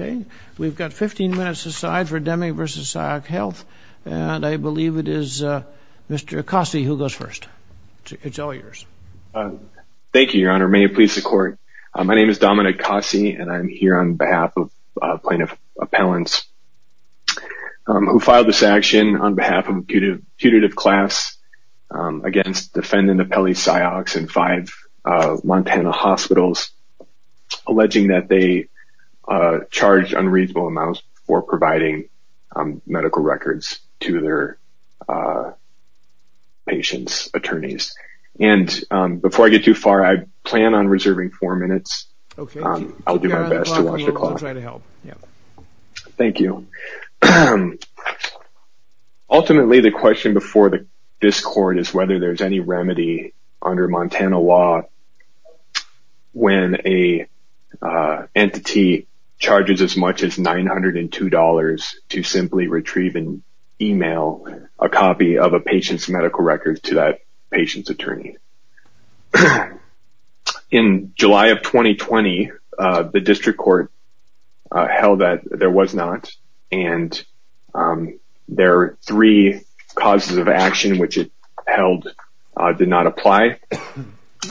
Okay, we've got 15 minutes aside for Deming v. Ciox Health, and I believe it is Mr. Acossi who goes first. It's all yours. Thank you, Your Honor. May it please the Court. My name is Dominic Acossi, and I'm here on behalf of Plaintiff Appellants, who filed this action on behalf of a putative class against defendant Appellee Ciox and five Montana hospitals, alleging that they charged unreasonable amounts for providing medical records to their patients' attorneys. And before I get too far, I plan on reserving four minutes. I'll do my best to watch the clock. Thank you. Ultimately, the question before this Court is whether there's any remedy under Montana law when an entity charges as much as $902 to simply retrieve and email a copy of a patient's medical record to that patient's attorney. In July of 2020, the District Court held that there was not, and there are three causes of action which it held did not apply.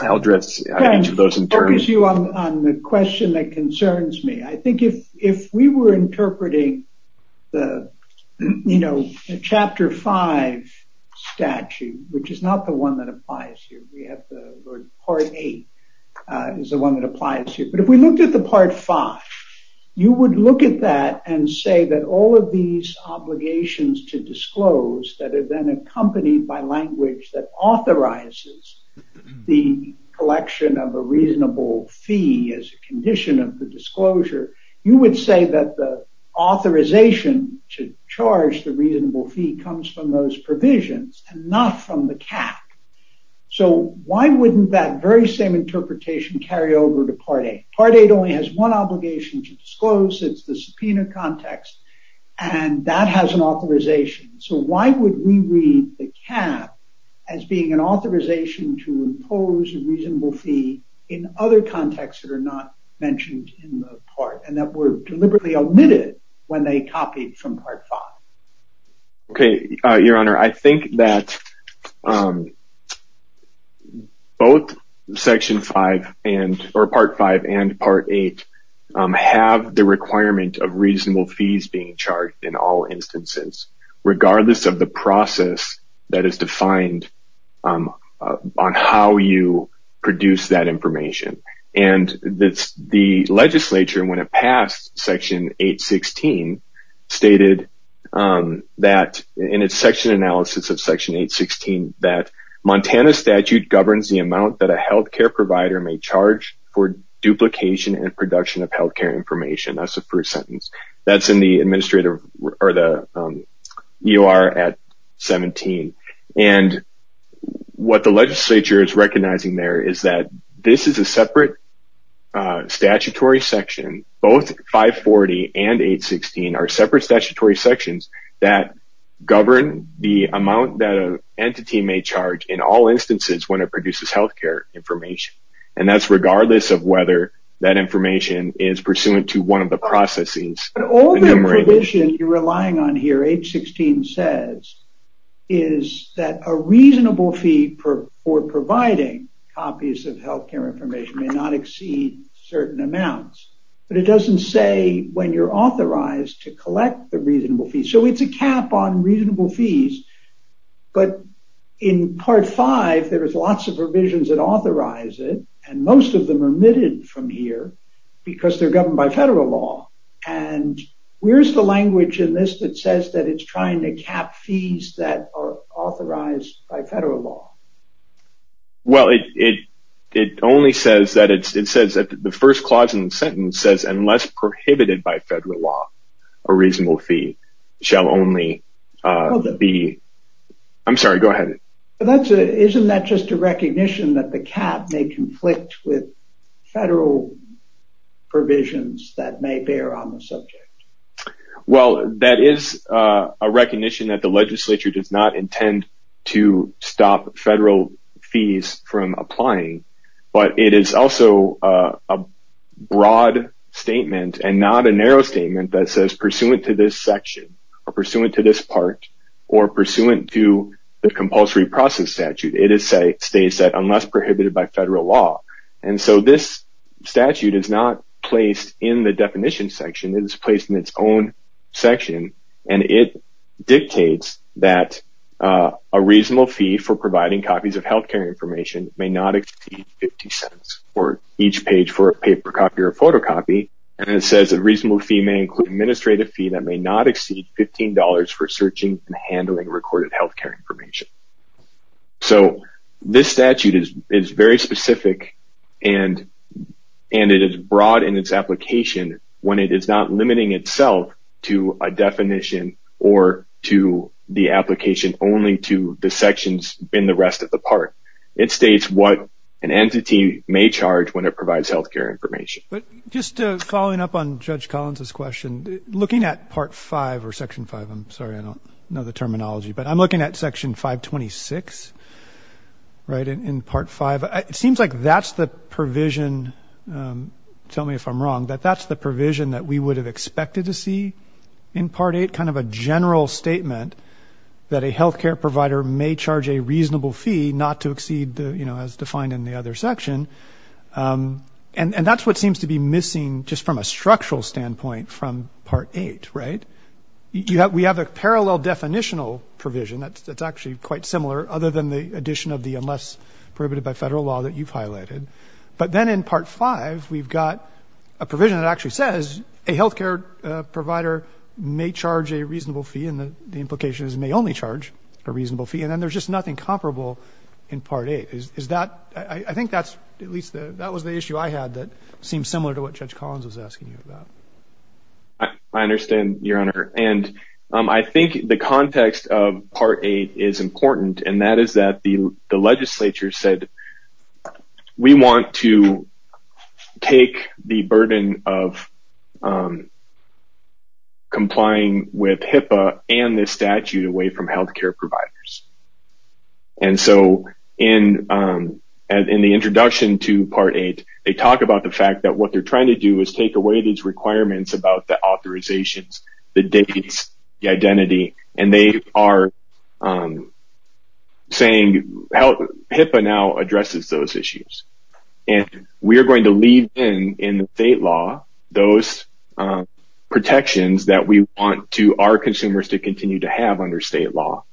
I'll address each of those in turn. I'll focus you on the question that concerns me. I think if we were interpreting the, you know, Chapter 5 statute, which is not the one that applies here. Part 8 is the one that applies here. But if we looked at the Part 5, you would look at that and say that all of these obligations to disclose that are then accompanied by language that authorizes the collection of a reasonable fee as a condition of the disclosure, you would say that the authorization to charge the reasonable fee comes from those provisions and not from the CAC. So why wouldn't that very same interpretation carry over to Part 8? Part 8 only has one obligation to disclose. It's the subpoena context, and that has an authorization. So why would we read the CAC as being an authorization to impose a reasonable fee in other contexts that are not mentioned in the part and that were deliberately omitted when they copied from Part 5? Okay, Your Honor, I think that both Section 5 and, or Part 5 and Part 8, have the requirement of reasonable fees being charged in all instances, regardless of the process that is defined on how you produce that information. And the legislature, when it passed Section 816, stated that, in its section analysis of Section 816, that Montana statute governs the amount that a health care provider may charge for duplication and production of health care information. That's the first sentence. That's in the administrative, or the UR at 17. And what the legislature is recognizing there is that this is a separate statutory section. Both 540 and 816 are separate statutory sections that govern the amount that an entity may charge in all instances when it produces health care information. And that's regardless of whether that information is pursuant to one of the processes. But all the provision you're relying on here, 816 says, is that a reasonable fee for providing copies of health care information may not exceed certain amounts. But it doesn't say when you're authorized to collect the reasonable fee. So it's a cap on reasonable fees. But in Part 5, there is lots of provisions that authorize it. And most of them are omitted from here because they're governed by federal law. And where's the language in this that says that it's trying to cap fees that are authorized by federal law? Well, it only says that it's, it says that the first clause in the sentence says, unless prohibited by federal law, a reasonable fee shall only be, I'm sorry, go ahead. Isn't that just a recognition that the cap may conflict with federal provisions that may bear on the subject? Well, that is a recognition that the legislature does not intend to stop federal fees from applying. But it is also a broad statement and not a narrow statement that says pursuant to this section, or pursuant to this part, or pursuant to the compulsory process statute, it states that unless prohibited by federal law. And so this statute is not placed in the definition section. It is placed in its own section. And it dictates that a reasonable fee for providing copies of healthcare information may not exceed 50 cents for each page for a paper copy or photocopy. And it says a reasonable fee may include administrative fee that may not exceed $15 for searching and handling recorded healthcare information. So this statute is very specific and it is broad in its application when it is not limiting itself to a definition or to the application only to the sections in the rest of the part. It states what an entity may charge when it provides healthcare information. But just following up on Judge Collins' question, looking at Part V or Section V, I'm sorry I don't know the terminology, but I'm looking at Section 526, right, in Part V. It seems like that's the provision, tell me if I'm wrong, that that's the provision that we would have expected to see in Part VIII, kind of a general statement that a healthcare provider may charge a reasonable fee not to exceed, you know, as defined in the other section. And that's what seems to be missing just from a structural standpoint from Part VIII, right? We have a parallel definitional provision that's actually quite similar other than the addition of the unless prohibited by federal law that you've highlighted. But then in Part V, we've got a provision that actually says a healthcare provider may charge a reasonable fee and the implication is may only charge a reasonable fee. And then there's just nothing comparable in Part VIII. Is that – I think that's at least – that was the issue I had that seems similar to what Judge Collins was asking you about. I understand, Your Honor, and I think the context of Part VIII is important, and that is that the legislature said we want to take the burden of complying with HIPAA and this statute away from healthcare providers. And so in the introduction to Part VIII, they talk about the fact that what they're trying to do is take away these requirements about the authorizations, the dates, the identity, and they are saying HIPAA now addresses those issues. And we are going to leave in the state law those protections that we want our consumers to continue to have under state law.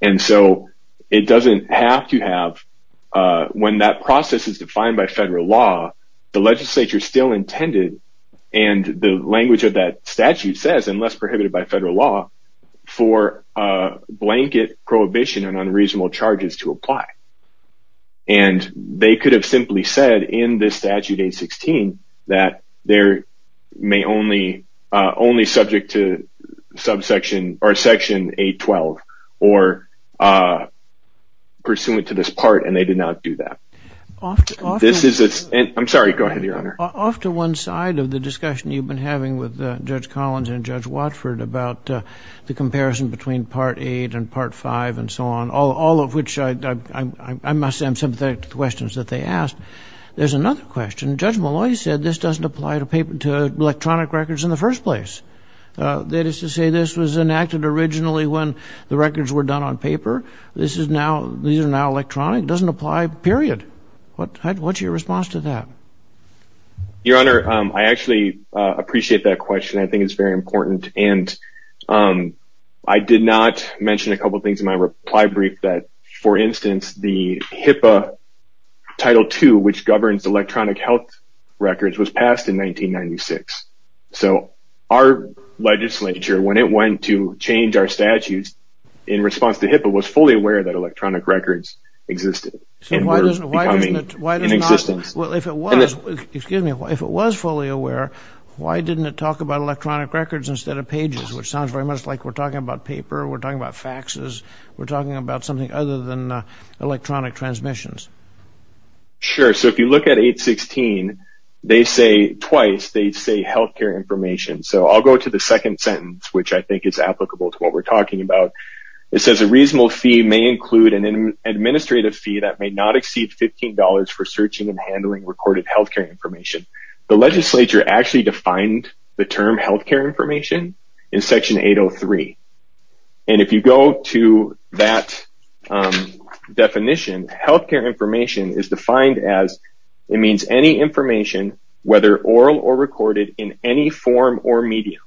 And so it doesn't have to have – when that process is defined by federal law, the legislature still intended and the language of that statute says, unless prohibited by federal law, for a blanket prohibition on unreasonable charges to apply. And they could have simply said in this Statute 816 that they're only subject to Section 812 or pursuant to this part, and they did not do that. This is – I'm sorry, go ahead, Your Honor. Off to one side of the discussion you've been having with Judge Collins and Judge Watford about the comparison between Part VIII and Part V and so on, all of which I must say I'm sympathetic to the questions that they asked. There's another question. Judge Malloy said this doesn't apply to electronic records in the first place. That is to say, this was enacted originally when the records were done on paper. This is now – these are now electronic. It doesn't apply, period. What's your response to that? Your Honor, I actually appreciate that question. I think it's very important. And I did not mention a couple things in my reply brief that, for instance, the HIPAA Title II, which governs electronic health records, was passed in 1996. So our legislature, when it went to change our statutes in response to HIPAA, was fully aware that electronic records existed and were becoming in existence. Well, if it was fully aware, why didn't it talk about electronic records instead of pages, which sounds very much like we're talking about paper, we're talking about faxes, we're talking about something other than electronic transmissions. Sure. So if you look at 816, they say twice, they say health care information. So I'll go to the second sentence, which I think is applicable to what we're talking about. It says a reasonable fee may include an administrative fee that may not exceed $15 for searching and handling recorded health care information. The legislature actually defined the term health care information in Section 803. And if you go to that definition, health care information is defined as it means any information, whether oral or recorded, in any form or medium.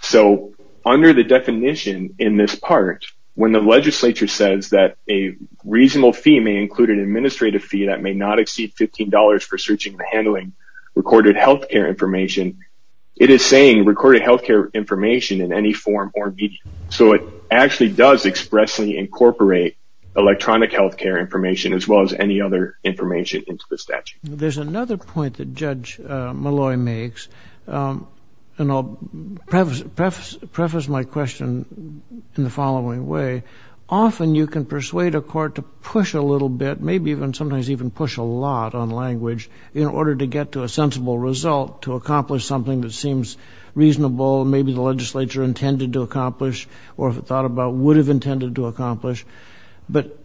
So under the definition in this part, when the legislature says that a reasonable fee may include an administrative fee that may not exceed $15 for searching and handling recorded health care information, it is saying recorded health care information in any form or medium. So it actually does expressly incorporate electronic health care information, as well as any other information into the statute. There's another point that Judge Malloy makes, and I'll preface my question in the following way. Often you can persuade a court to push a little bit, maybe even sometimes even push a lot on language, in order to get to a sensible result to accomplish something that seems reasonable, maybe the legislature intended to accomplish or thought about would have intended to accomplish. But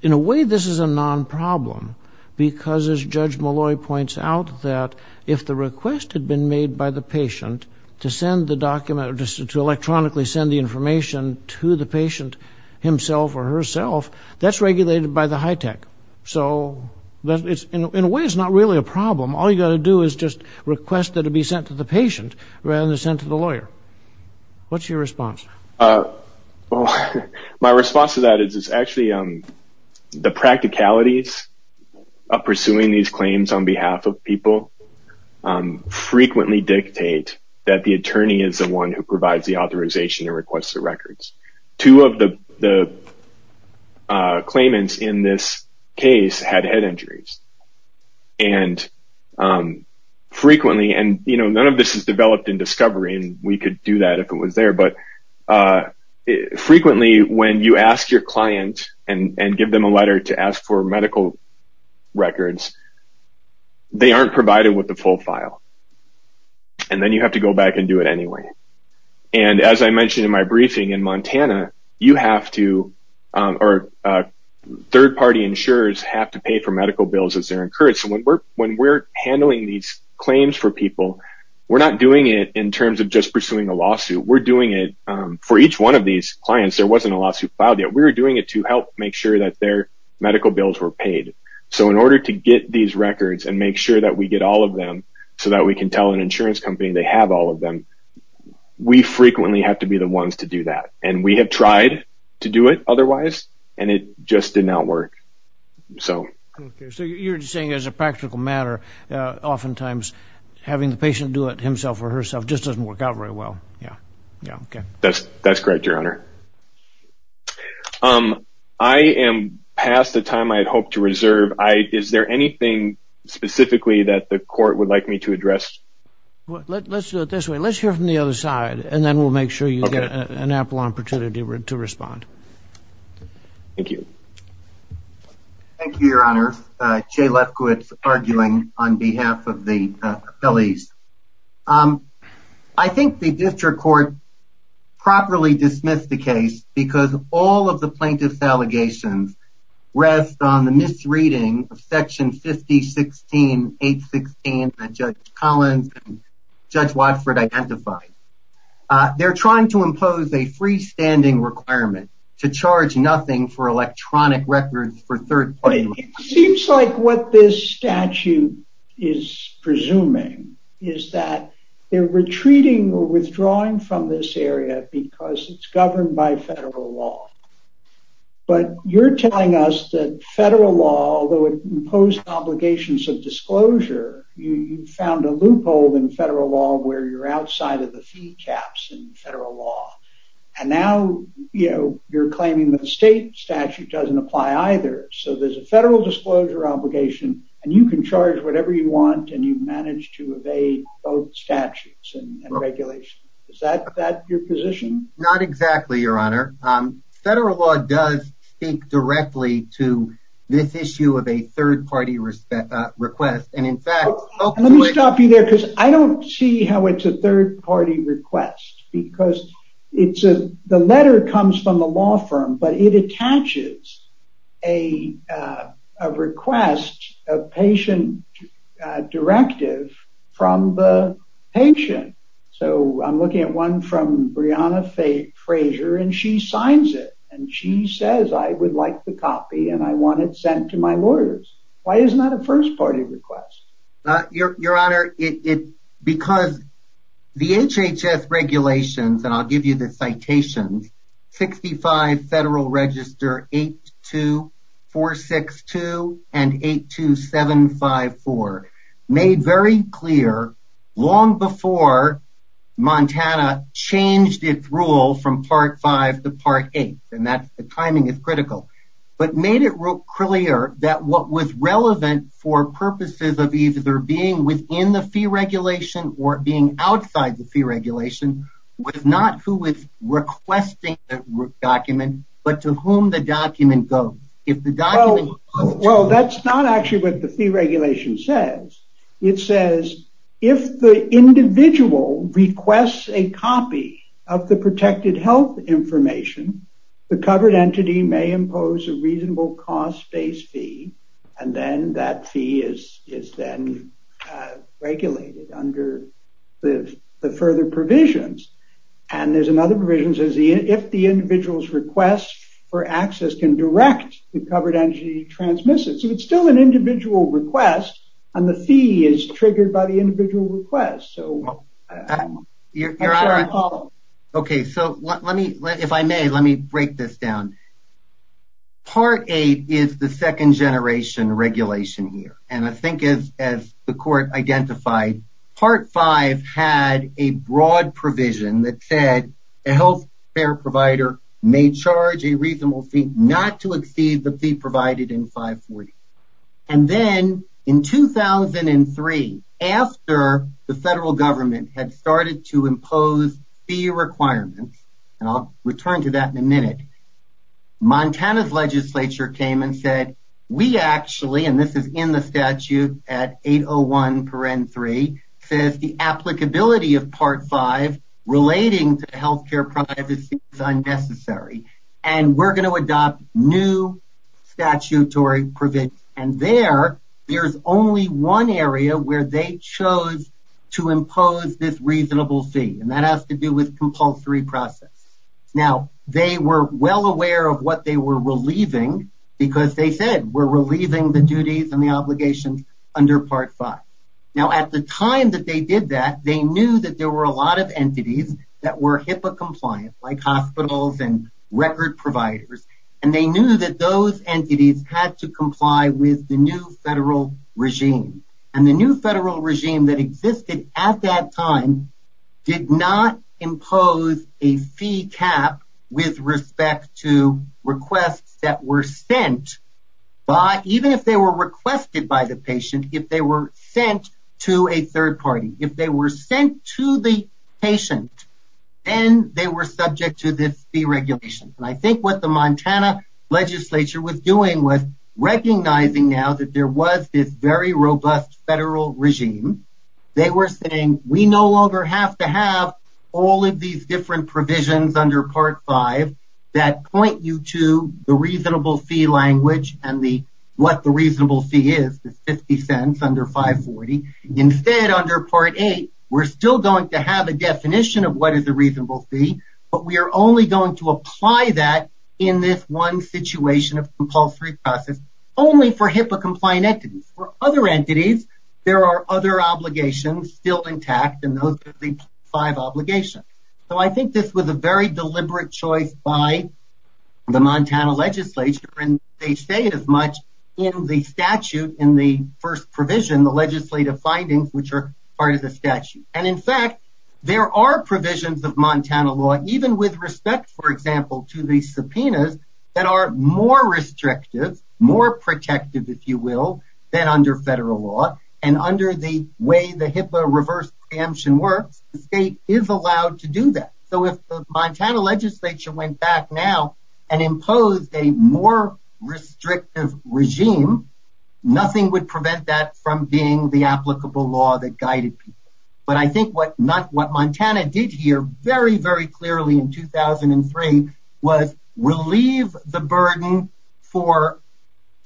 in a way this is a non-problem, because as Judge Malloy points out, that if the request had been made by the patient to send the document, to electronically send the information to the patient himself or herself, that's regulated by the HITECH. So in a way it's not really a problem. All you've got to do is just request that it be sent to the patient rather than sent to the lawyer. What's your response? My response to that is actually the practicalities of pursuing these claims on behalf of people frequently dictate that the attorney is the one who provides the authorization and requests the records. Two of the claimants in this case had head injuries. And none of this is developed in discovery, and we could do that if it was there, but frequently when you ask your client and give them a letter to ask for medical records, they aren't provided with the full file. And then you have to go back and do it anyway. And as I mentioned in my briefing, in Montana you have to, or third-party insurers have to pay for medical bills as they're encouraged. So when we're handling these claims for people, we're not doing it in terms of just pursuing a lawsuit. We're doing it for each one of these clients. There wasn't a lawsuit filed yet. We were doing it to help make sure that their medical bills were paid. So in order to get these records and make sure that we get all of them so that we can tell an insurance company they have all of them, we frequently have to be the ones to do that. And we have tried to do it otherwise, and it just did not work. So you're saying as a practical matter, oftentimes having the patient do it himself or herself just doesn't work out very well. That's correct, Your Honor. I am past the time I had hoped to reserve. Is there anything specifically that the court would like me to address? Let's do it this way. Let's hear from the other side, and then we'll make sure you get an ample opportunity to respond. Thank you. Thank you, Your Honor. Jay Lefkowitz, arguing on behalf of the appellees. I think the district court properly dismissed the case because all of the plaintiff's allegations rest on the misreading of Section 5016.816 that Judge Collins and Judge Watford identified. They're trying to impose a freestanding requirement to charge nothing for electronic records for third parties. It seems like what this statute is presuming is that they're retreating or withdrawing from this area because it's governed by federal law. But you're telling us that federal law, although it imposed obligations of disclosure, you found a loophole in federal law where you're outside of the fee caps in federal law. And now, you know, you're claiming that the state statute doesn't apply either. So there's a federal disclosure obligation, and you can charge whatever you want, and you've managed to evade both statutes and regulations. Is that your position? Not exactly, Your Honor. Federal law does speak directly to this issue of a third-party request. Let me stop you there because I don't see how it's a third-party request because the letter comes from the law firm, but it attaches a request, a patient directive from the patient. So I'm looking at one from Breonna Fraser, and she signs it. And she says, I would like the copy, and I want it sent to my lawyers. Why is that a first-party request? Your Honor, because the HHS regulations, and I'll give you the citations, 65 Federal Register 82462 and 82754, made very clear long before Montana changed its rule from Part V to Part VIII, and the timing is critical, but made it clear that what was relevant for purposes of either being within the fee regulation or being outside the fee regulation was not who was requesting the document, but to whom the document goes. Well, that's not actually what the fee regulation says. It says if the individual requests a copy of the protected health information, the covered entity may impose a reasonable cost-based fee, and then that fee is then regulated under the further provisions. And there's another provision that says if the individual's request for access can direct the covered entity to transmit it. So it's still an individual request, and the fee is triggered by the individual request. Your Honor, okay, so let me, if I may, let me break this down. Part VIII is the second-generation regulation here, and I think as the Court identified, Part V had a broad provision that said a health care provider may charge a reasonable fee not to exceed the fee provided in 540. And then in 2003, after the federal government had started to impose fee requirements, and I'll return to that in a minute, Montana's legislature came and said, we actually, and this is in the statute at 801 paren 3, says the applicability of Part V relating to health care privacy is unnecessary, and we're going to adopt new statutory provisions. And there, there's only one area where they chose to impose this reasonable fee, and that has to do with compulsory process. Now, they were well aware of what they were relieving because they said we're relieving the duties and the obligations under Part V. Now, at the time that they did that, they knew that there were a lot of entities that were HIPAA compliant, like hospitals and record providers, and they knew that those entities had to comply with the new federal regime. And the new federal regime that existed at that time did not impose a fee cap with respect to requests that were sent, but even if they were requested by the patient, if they were sent to a third party, if they were sent to the patient, then they were subject to this fee regulation. And I think what the Montana legislature was doing was recognizing now that there was this very robust federal regime. They were saying we no longer have to have all of these different provisions under Part V that point you to the reasonable fee language and what the reasonable fee is, the 50 cents under 540. Instead, under Part VIII, we're still going to have a definition of what is a reasonable fee, but we are only going to apply that in this one situation of compulsory process only for HIPAA-compliant entities. For other entities, there are other obligations still intact, and those are the five obligations. So I think this was a very deliberate choice by the Montana legislature, and they say it as much in the statute in the first provision, the legislative findings, which are part of the statute. And in fact, there are provisions of Montana law, even with respect, for example, to the subpoenas, that are more restrictive, more protective, if you will, than under federal law. And under the way the HIPAA reverse preemption works, the state is allowed to do that. So if the Montana legislature went back now and imposed a more restrictive regime, nothing would prevent that from being the applicable law that guided people. But I think what Montana did here very, very clearly in 2003 was relieve the burden for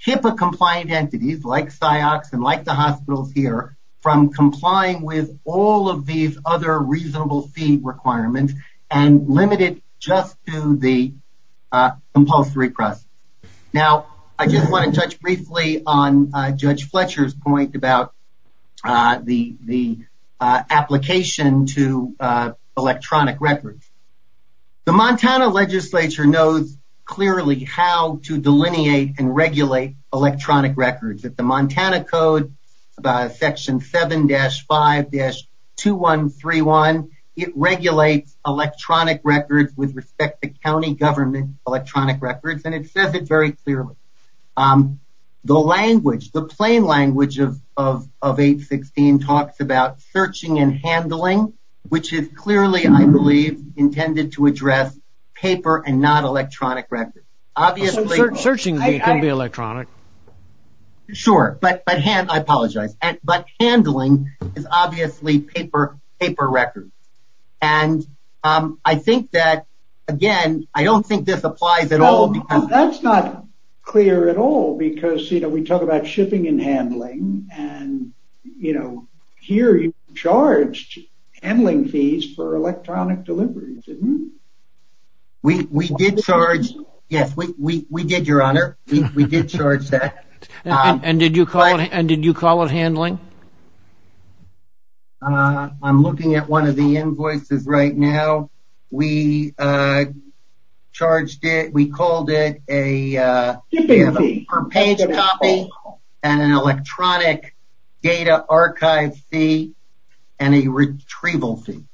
HIPAA-compliant entities, like SIOCs and like the hospitals here, from complying with all of these other reasonable fee requirements and limit it just to the compulsory process. Now, I just want to touch briefly on Judge Fletcher's point about the application to electronic records. The Montana legislature knows clearly how to delineate and regulate electronic records. At the Montana Code, Section 7-5-2131, it regulates electronic records with respect to county government electronic records, and it says it very clearly. The language, the plain language of 816 talks about searching and handling, which is clearly, I believe, intended to address paper and not electronic records. Searching can be electronic. Sure, but handling is obviously paper records. And I think that, again, I don't think this applies at all. That's not clear at all because, you know, we talk about shipping and handling, and, you know, here you charged handling fees for electronic deliveries, didn't you? We did charge, yes, we did, Your Honor. We did charge that. And did you call it handling? I'm looking at one of the invoices right now. We charged it, we called it a paper copy and an electronic data archive fee and a retrieval fee.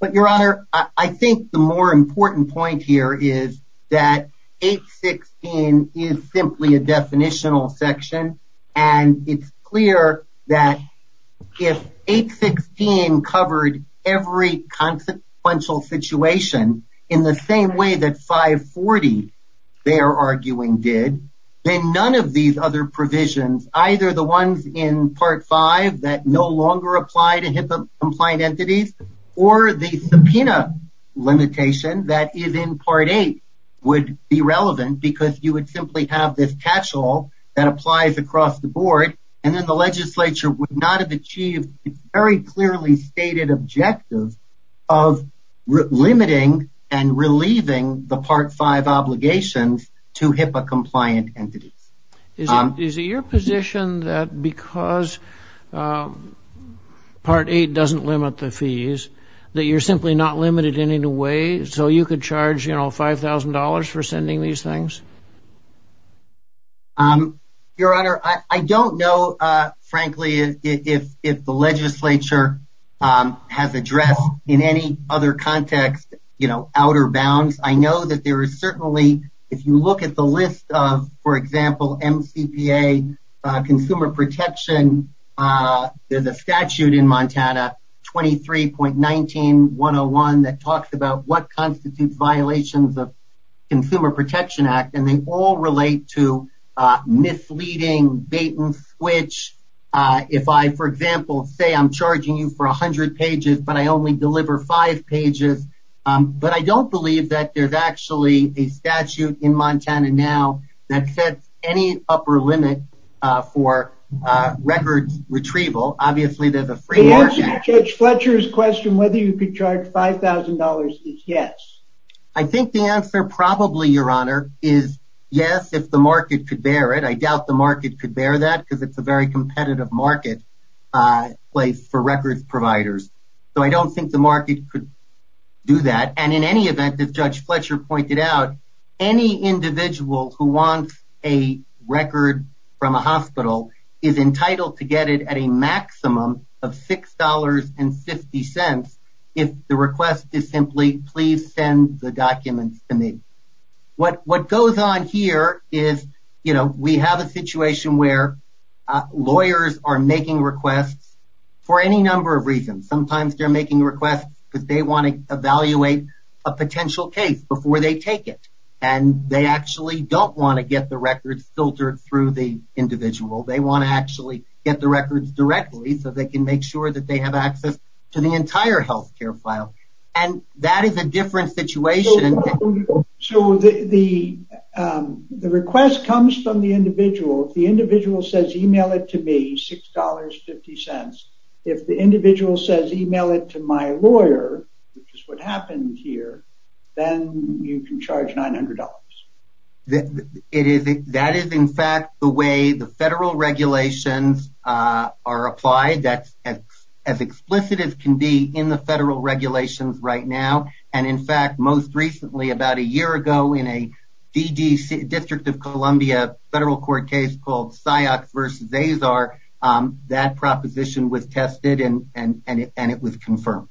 But, Your Honor, I think the more important point here is that 816 is simply a definitional section and it's clear that if 816 covered every consequential situation in the same way that 540, they're arguing, did, then none of these other provisions, either the ones in Part V that no longer apply to HIPAA-compliant entities or the subpoena limitation that is in Part VIII would be relevant because you would simply have this catch-all that applies across the board and then the legislature would not have achieved its very clearly stated objective of limiting and relieving the Part V obligations to HIPAA-compliant entities. Is it your position that because Part VIII doesn't limit the fees that you're simply not limited in any way? So you could charge, you know, $5,000 for sending these things? Your Honor, I don't know, frankly, if the legislature has addressed in any other context, you know, outer bounds. I know that there is certainly, if you look at the list of, for example, MCPA consumer protection, there's a statute in Montana, 23.19101, that talks about what constitutes violations of Consumer Protection Act and they all relate to misleading, bait-and-switch. If I, for example, say I'm charging you for 100 pages, but I only deliver five pages, but I don't believe that there's actually a statute in Montana now that sets any upper limit for records retrieval. Obviously, there's a free market. The answer to Judge Fletcher's question whether you could charge $5,000 is yes. I think the answer probably, Your Honor, is yes, if the market could bear it. I doubt the market could bear that because it's a very competitive marketplace for records providers. So I don't think the market could do that. And in any event, as Judge Fletcher pointed out, any individual who wants a record from a hospital is entitled to get it at a maximum of $6.50 if the request is simply, please send the documents to me. What goes on here is we have a situation where lawyers are making requests for any number of reasons. Sometimes they're making requests because they want to evaluate a potential case before they take it and they actually don't want to get the records filtered through the individual. They want to actually get the records directly so they can make sure that they have access to the entire health care file. And that is a different situation. So the request comes from the individual. If the individual says email it to me, $6.50, if the individual says email it to my lawyer, which is what happened here, then you can charge $900. That is, in fact, the way the federal regulations are applied. That's as explicit as can be in the federal regulations right now. And, in fact, most recently, about a year ago, in a D.D. District of Columbia federal court case called Syox versus Azar, that proposition was tested and it was confirmed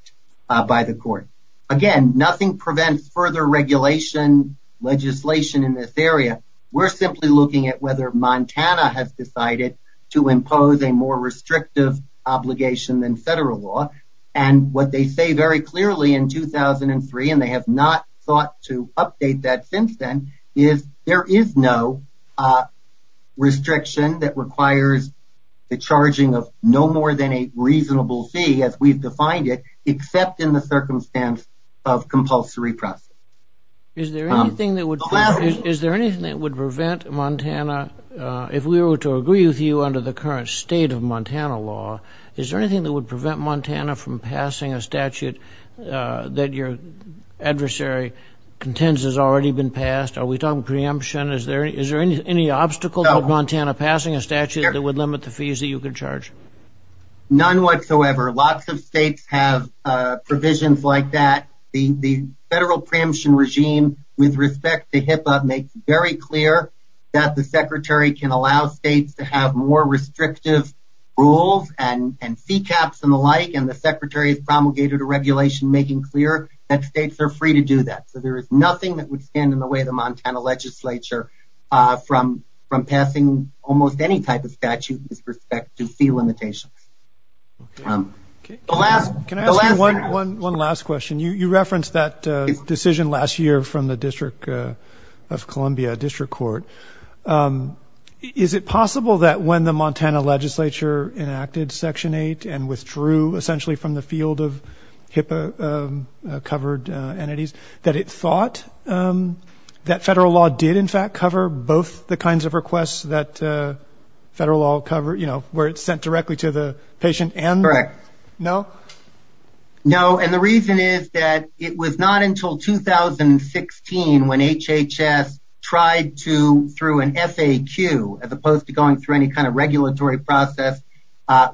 by the court. Again, nothing prevents further regulation legislation in this area. We're simply looking at whether Montana has decided to impose a more restrictive obligation than federal law. And what they say very clearly in 2003, and they have not thought to update that since then, is there is no restriction that requires the charging of no more than a reasonable fee, as we've defined it, except in the circumstance of compulsory process. Is there anything that would prevent Montana, if we were to agree with you under the current state of Montana law, is there anything that would prevent Montana from passing a statute that your adversary contends has already been passed? Are we talking preemption? Is there any obstacle to Montana passing a statute that would limit the fees that you could charge? None whatsoever. Lots of states have provisions like that. The federal preemption regime, with respect to HIPAA, makes very clear that the secretary can allow states to have more restrictive rules and fee caps and the like, and the secretary has promulgated a regulation making clear that states are free to do that. So there is nothing that would stand in the way of the Montana legislature from passing almost any type of statute with respect to fee limitations. Can I ask you one last question? You referenced that decision last year from the District of Columbia District Court. Is it possible that when the Montana legislature enacted Section 8 and withdrew essentially from the field of HIPAA-covered entities, that it thought that federal law did, in fact, cover both the kinds of requests that federal law covered, where it's sent directly to the patient and the? Correct. No? No, and the reason is that it was not until 2016 when HHS tried to, through an FAQ, as opposed to going through any kind of regulatory process,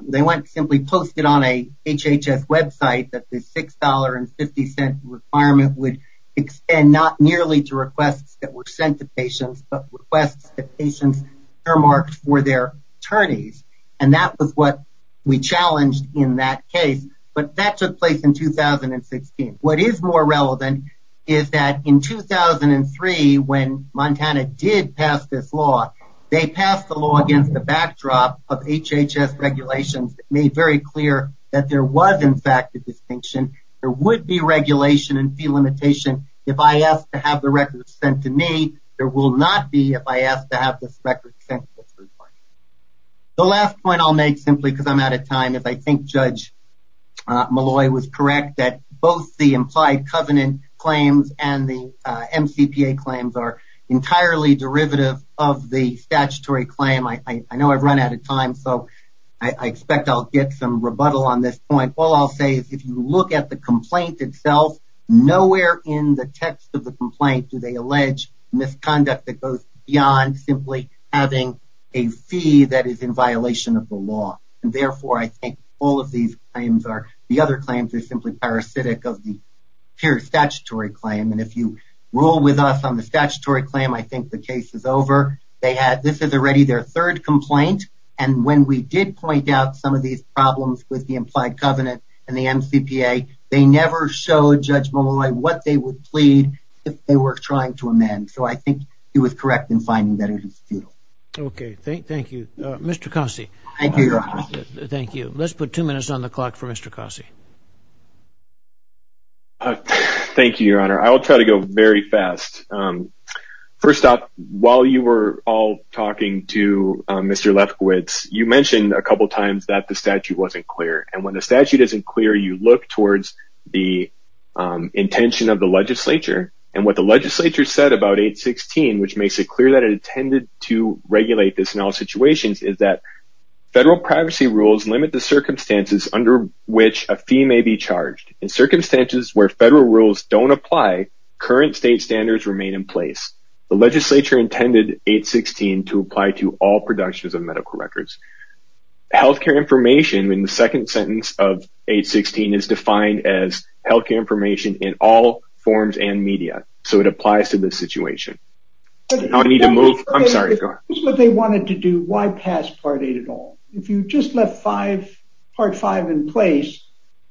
they went and simply posted on a HHS website that the $6.50 requirement would extend not nearly to requests that were sent to patients, but requests that patients earmarked for their attorneys, and that was what we challenged in that case. But that took place in 2016. What is more relevant is that in 2003, when Montana did pass this law, they passed the law against the backdrop of HHS regulations that made very clear that there was, in fact, a distinction. There would be regulation and fee limitation if I asked to have the records sent to me. There will not be if I ask to have this record sent to me. The last point I'll make, simply because I'm out of time, is I think Judge Malloy was correct that both the implied covenant claims and the MCPA claims are entirely derivative of the statutory claim. I know I've run out of time, so I expect I'll get some rebuttal on this point. All I'll say is if you look at the complaint itself, nowhere in the text of the complaint do they allege misconduct that goes beyond simply having a fee that is in violation of the law. Therefore, I think all of these claims are, the other claims are simply parasitic of the pure statutory claim. If you rule with us on the statutory claim, I think the case is over. This is already their third complaint, and when we did point out some of these problems with the implied covenant and the MCPA, they never showed Judge Malloy what they would plead if they were trying to amend. So I think he was correct in finding that it is futile. Okay, thank you. Mr. Cossey. Thank you, Your Honor. Thank you. Let's put two minutes on the clock for Mr. Cossey. Thank you, Your Honor. I will try to go very fast. First off, while you were all talking to Mr. Lefkowitz, you mentioned a couple times that the statute wasn't clear. And when the statute isn't clear, you look towards the intention of the legislature. And what the legislature said about 816, which makes it clear that it intended to regulate this in all situations, is that federal privacy rules limit the circumstances under which a fee may be charged. In circumstances where federal rules don't apply, current state standards remain in place. The legislature intended 816 to apply to all productions of medical records. Health care information in the second sentence of 816 is defined as health care information in all forms and media. So it applies to this situation. I need to move. I'm sorry. If this is what they wanted to do, why pass Part 8 at all? If you just left Part 5 in place,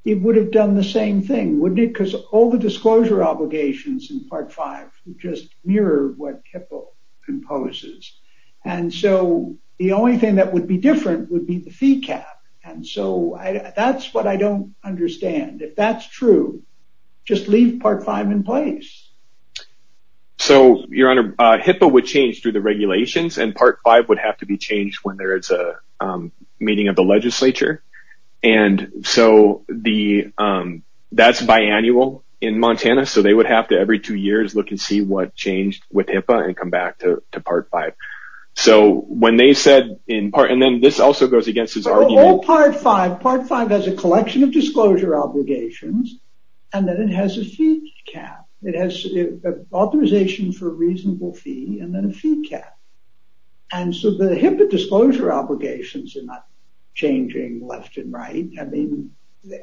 it would have done the same thing, wouldn't it? Because all the disclosure obligations in Part 5 just mirror what HIPAA imposes. And so the only thing that would be different would be the fee cap. And so that's what I don't understand. If that's true, just leave Part 5 in place. So, Your Honor, HIPAA would change through the regulations, and Part 5 would have to be changed when there is a meeting of the legislature. And so that's biannual in Montana. So they would have to every two years look and see what changed with HIPAA and come back to Part 5. So when they said in part, and then this also goes against his argument. Part 5 has a collection of disclosure obligations, and then it has a fee cap. It has authorization for a reasonable fee and then a fee cap. And so the HIPAA disclosure obligations are not changing left and right. I mean,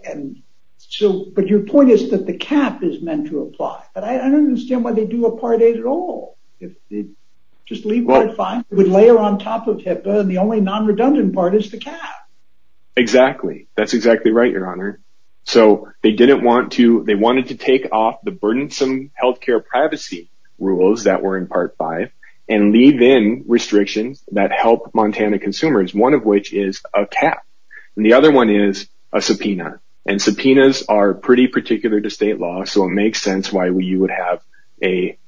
and so, but your point is that the cap is meant to apply. But I don't understand why they do a Part 8 at all. If they just leave Part 5, it would layer on top of HIPAA, and the only non-redundant part is the cap. Exactly. That's exactly right, Your Honor. So they didn't want to, they wanted to take off the burdensome health care privacy rules that were in Part 5 and leave in restrictions that help Montana consumers, one of which is a cap. And the other one is a subpoena. And subpoenas are pretty particular to state law, so it makes sense why we would have a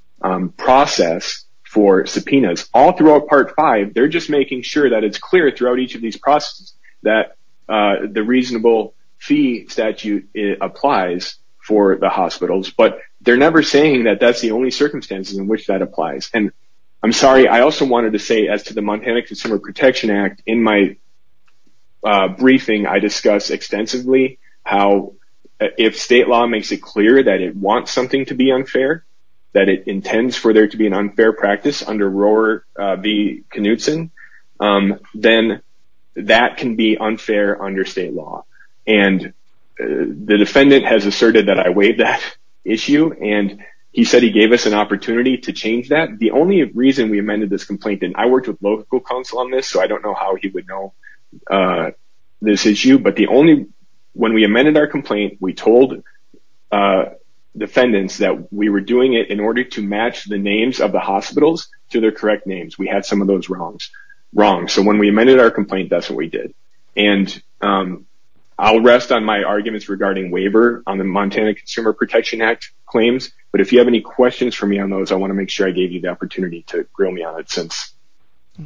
process for subpoenas. All throughout Part 5, they're just making sure that it's clear throughout each of these processes that the reasonable fee statute applies for the hospitals. But they're never saying that that's the only circumstances in which that applies. And I'm sorry, I also wanted to say as to the Montana Consumer Protection Act, in my briefing, I discussed extensively how if state law makes it clear that it wants something to be unfair, that it intends for there to be an unfair practice under Rohwer v. Knutson, then that can be unfair under state law. And the defendant has asserted that I weighed that issue, and he said he gave us an opportunity to change that. The only reason we amended this complaint, and I worked with local counsel on this, so I don't know how he would know this issue, but the only, when we amended our complaint, we told defendants that we were doing it in order to match the names of the hospitals to their correct names. We had some of those wrongs. So when we amended our complaint, that's what we did. And I'll rest on my arguments regarding waiver on the Montana Consumer Protection Act claims, but if you have any questions for me on those, I want to make sure I gave you the opportunity to grill me on it since.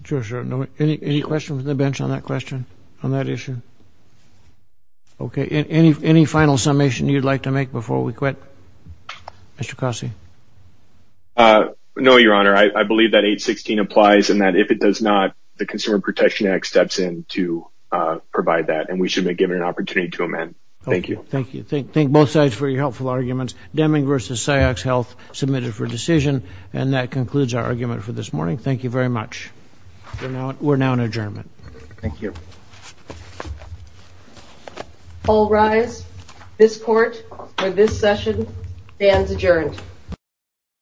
Sure, sure. Any questions from the bench on that question, on that issue? Okay. Any final summation you'd like to make before we quit? Mr. Cossey. No, Your Honor. I believe that 816 applies, and that if it does not, the Consumer Protection Act steps in to provide that, and we should be given an opportunity to amend. Thank you. Thank you. Thank both sides for your helpful arguments. Deming v. Cyox Health submitted for decision, and that concludes our argument for this morning. Thank you very much. We're now in adjournment. Thank you. All rise. This Court, for this session, stands adjourned.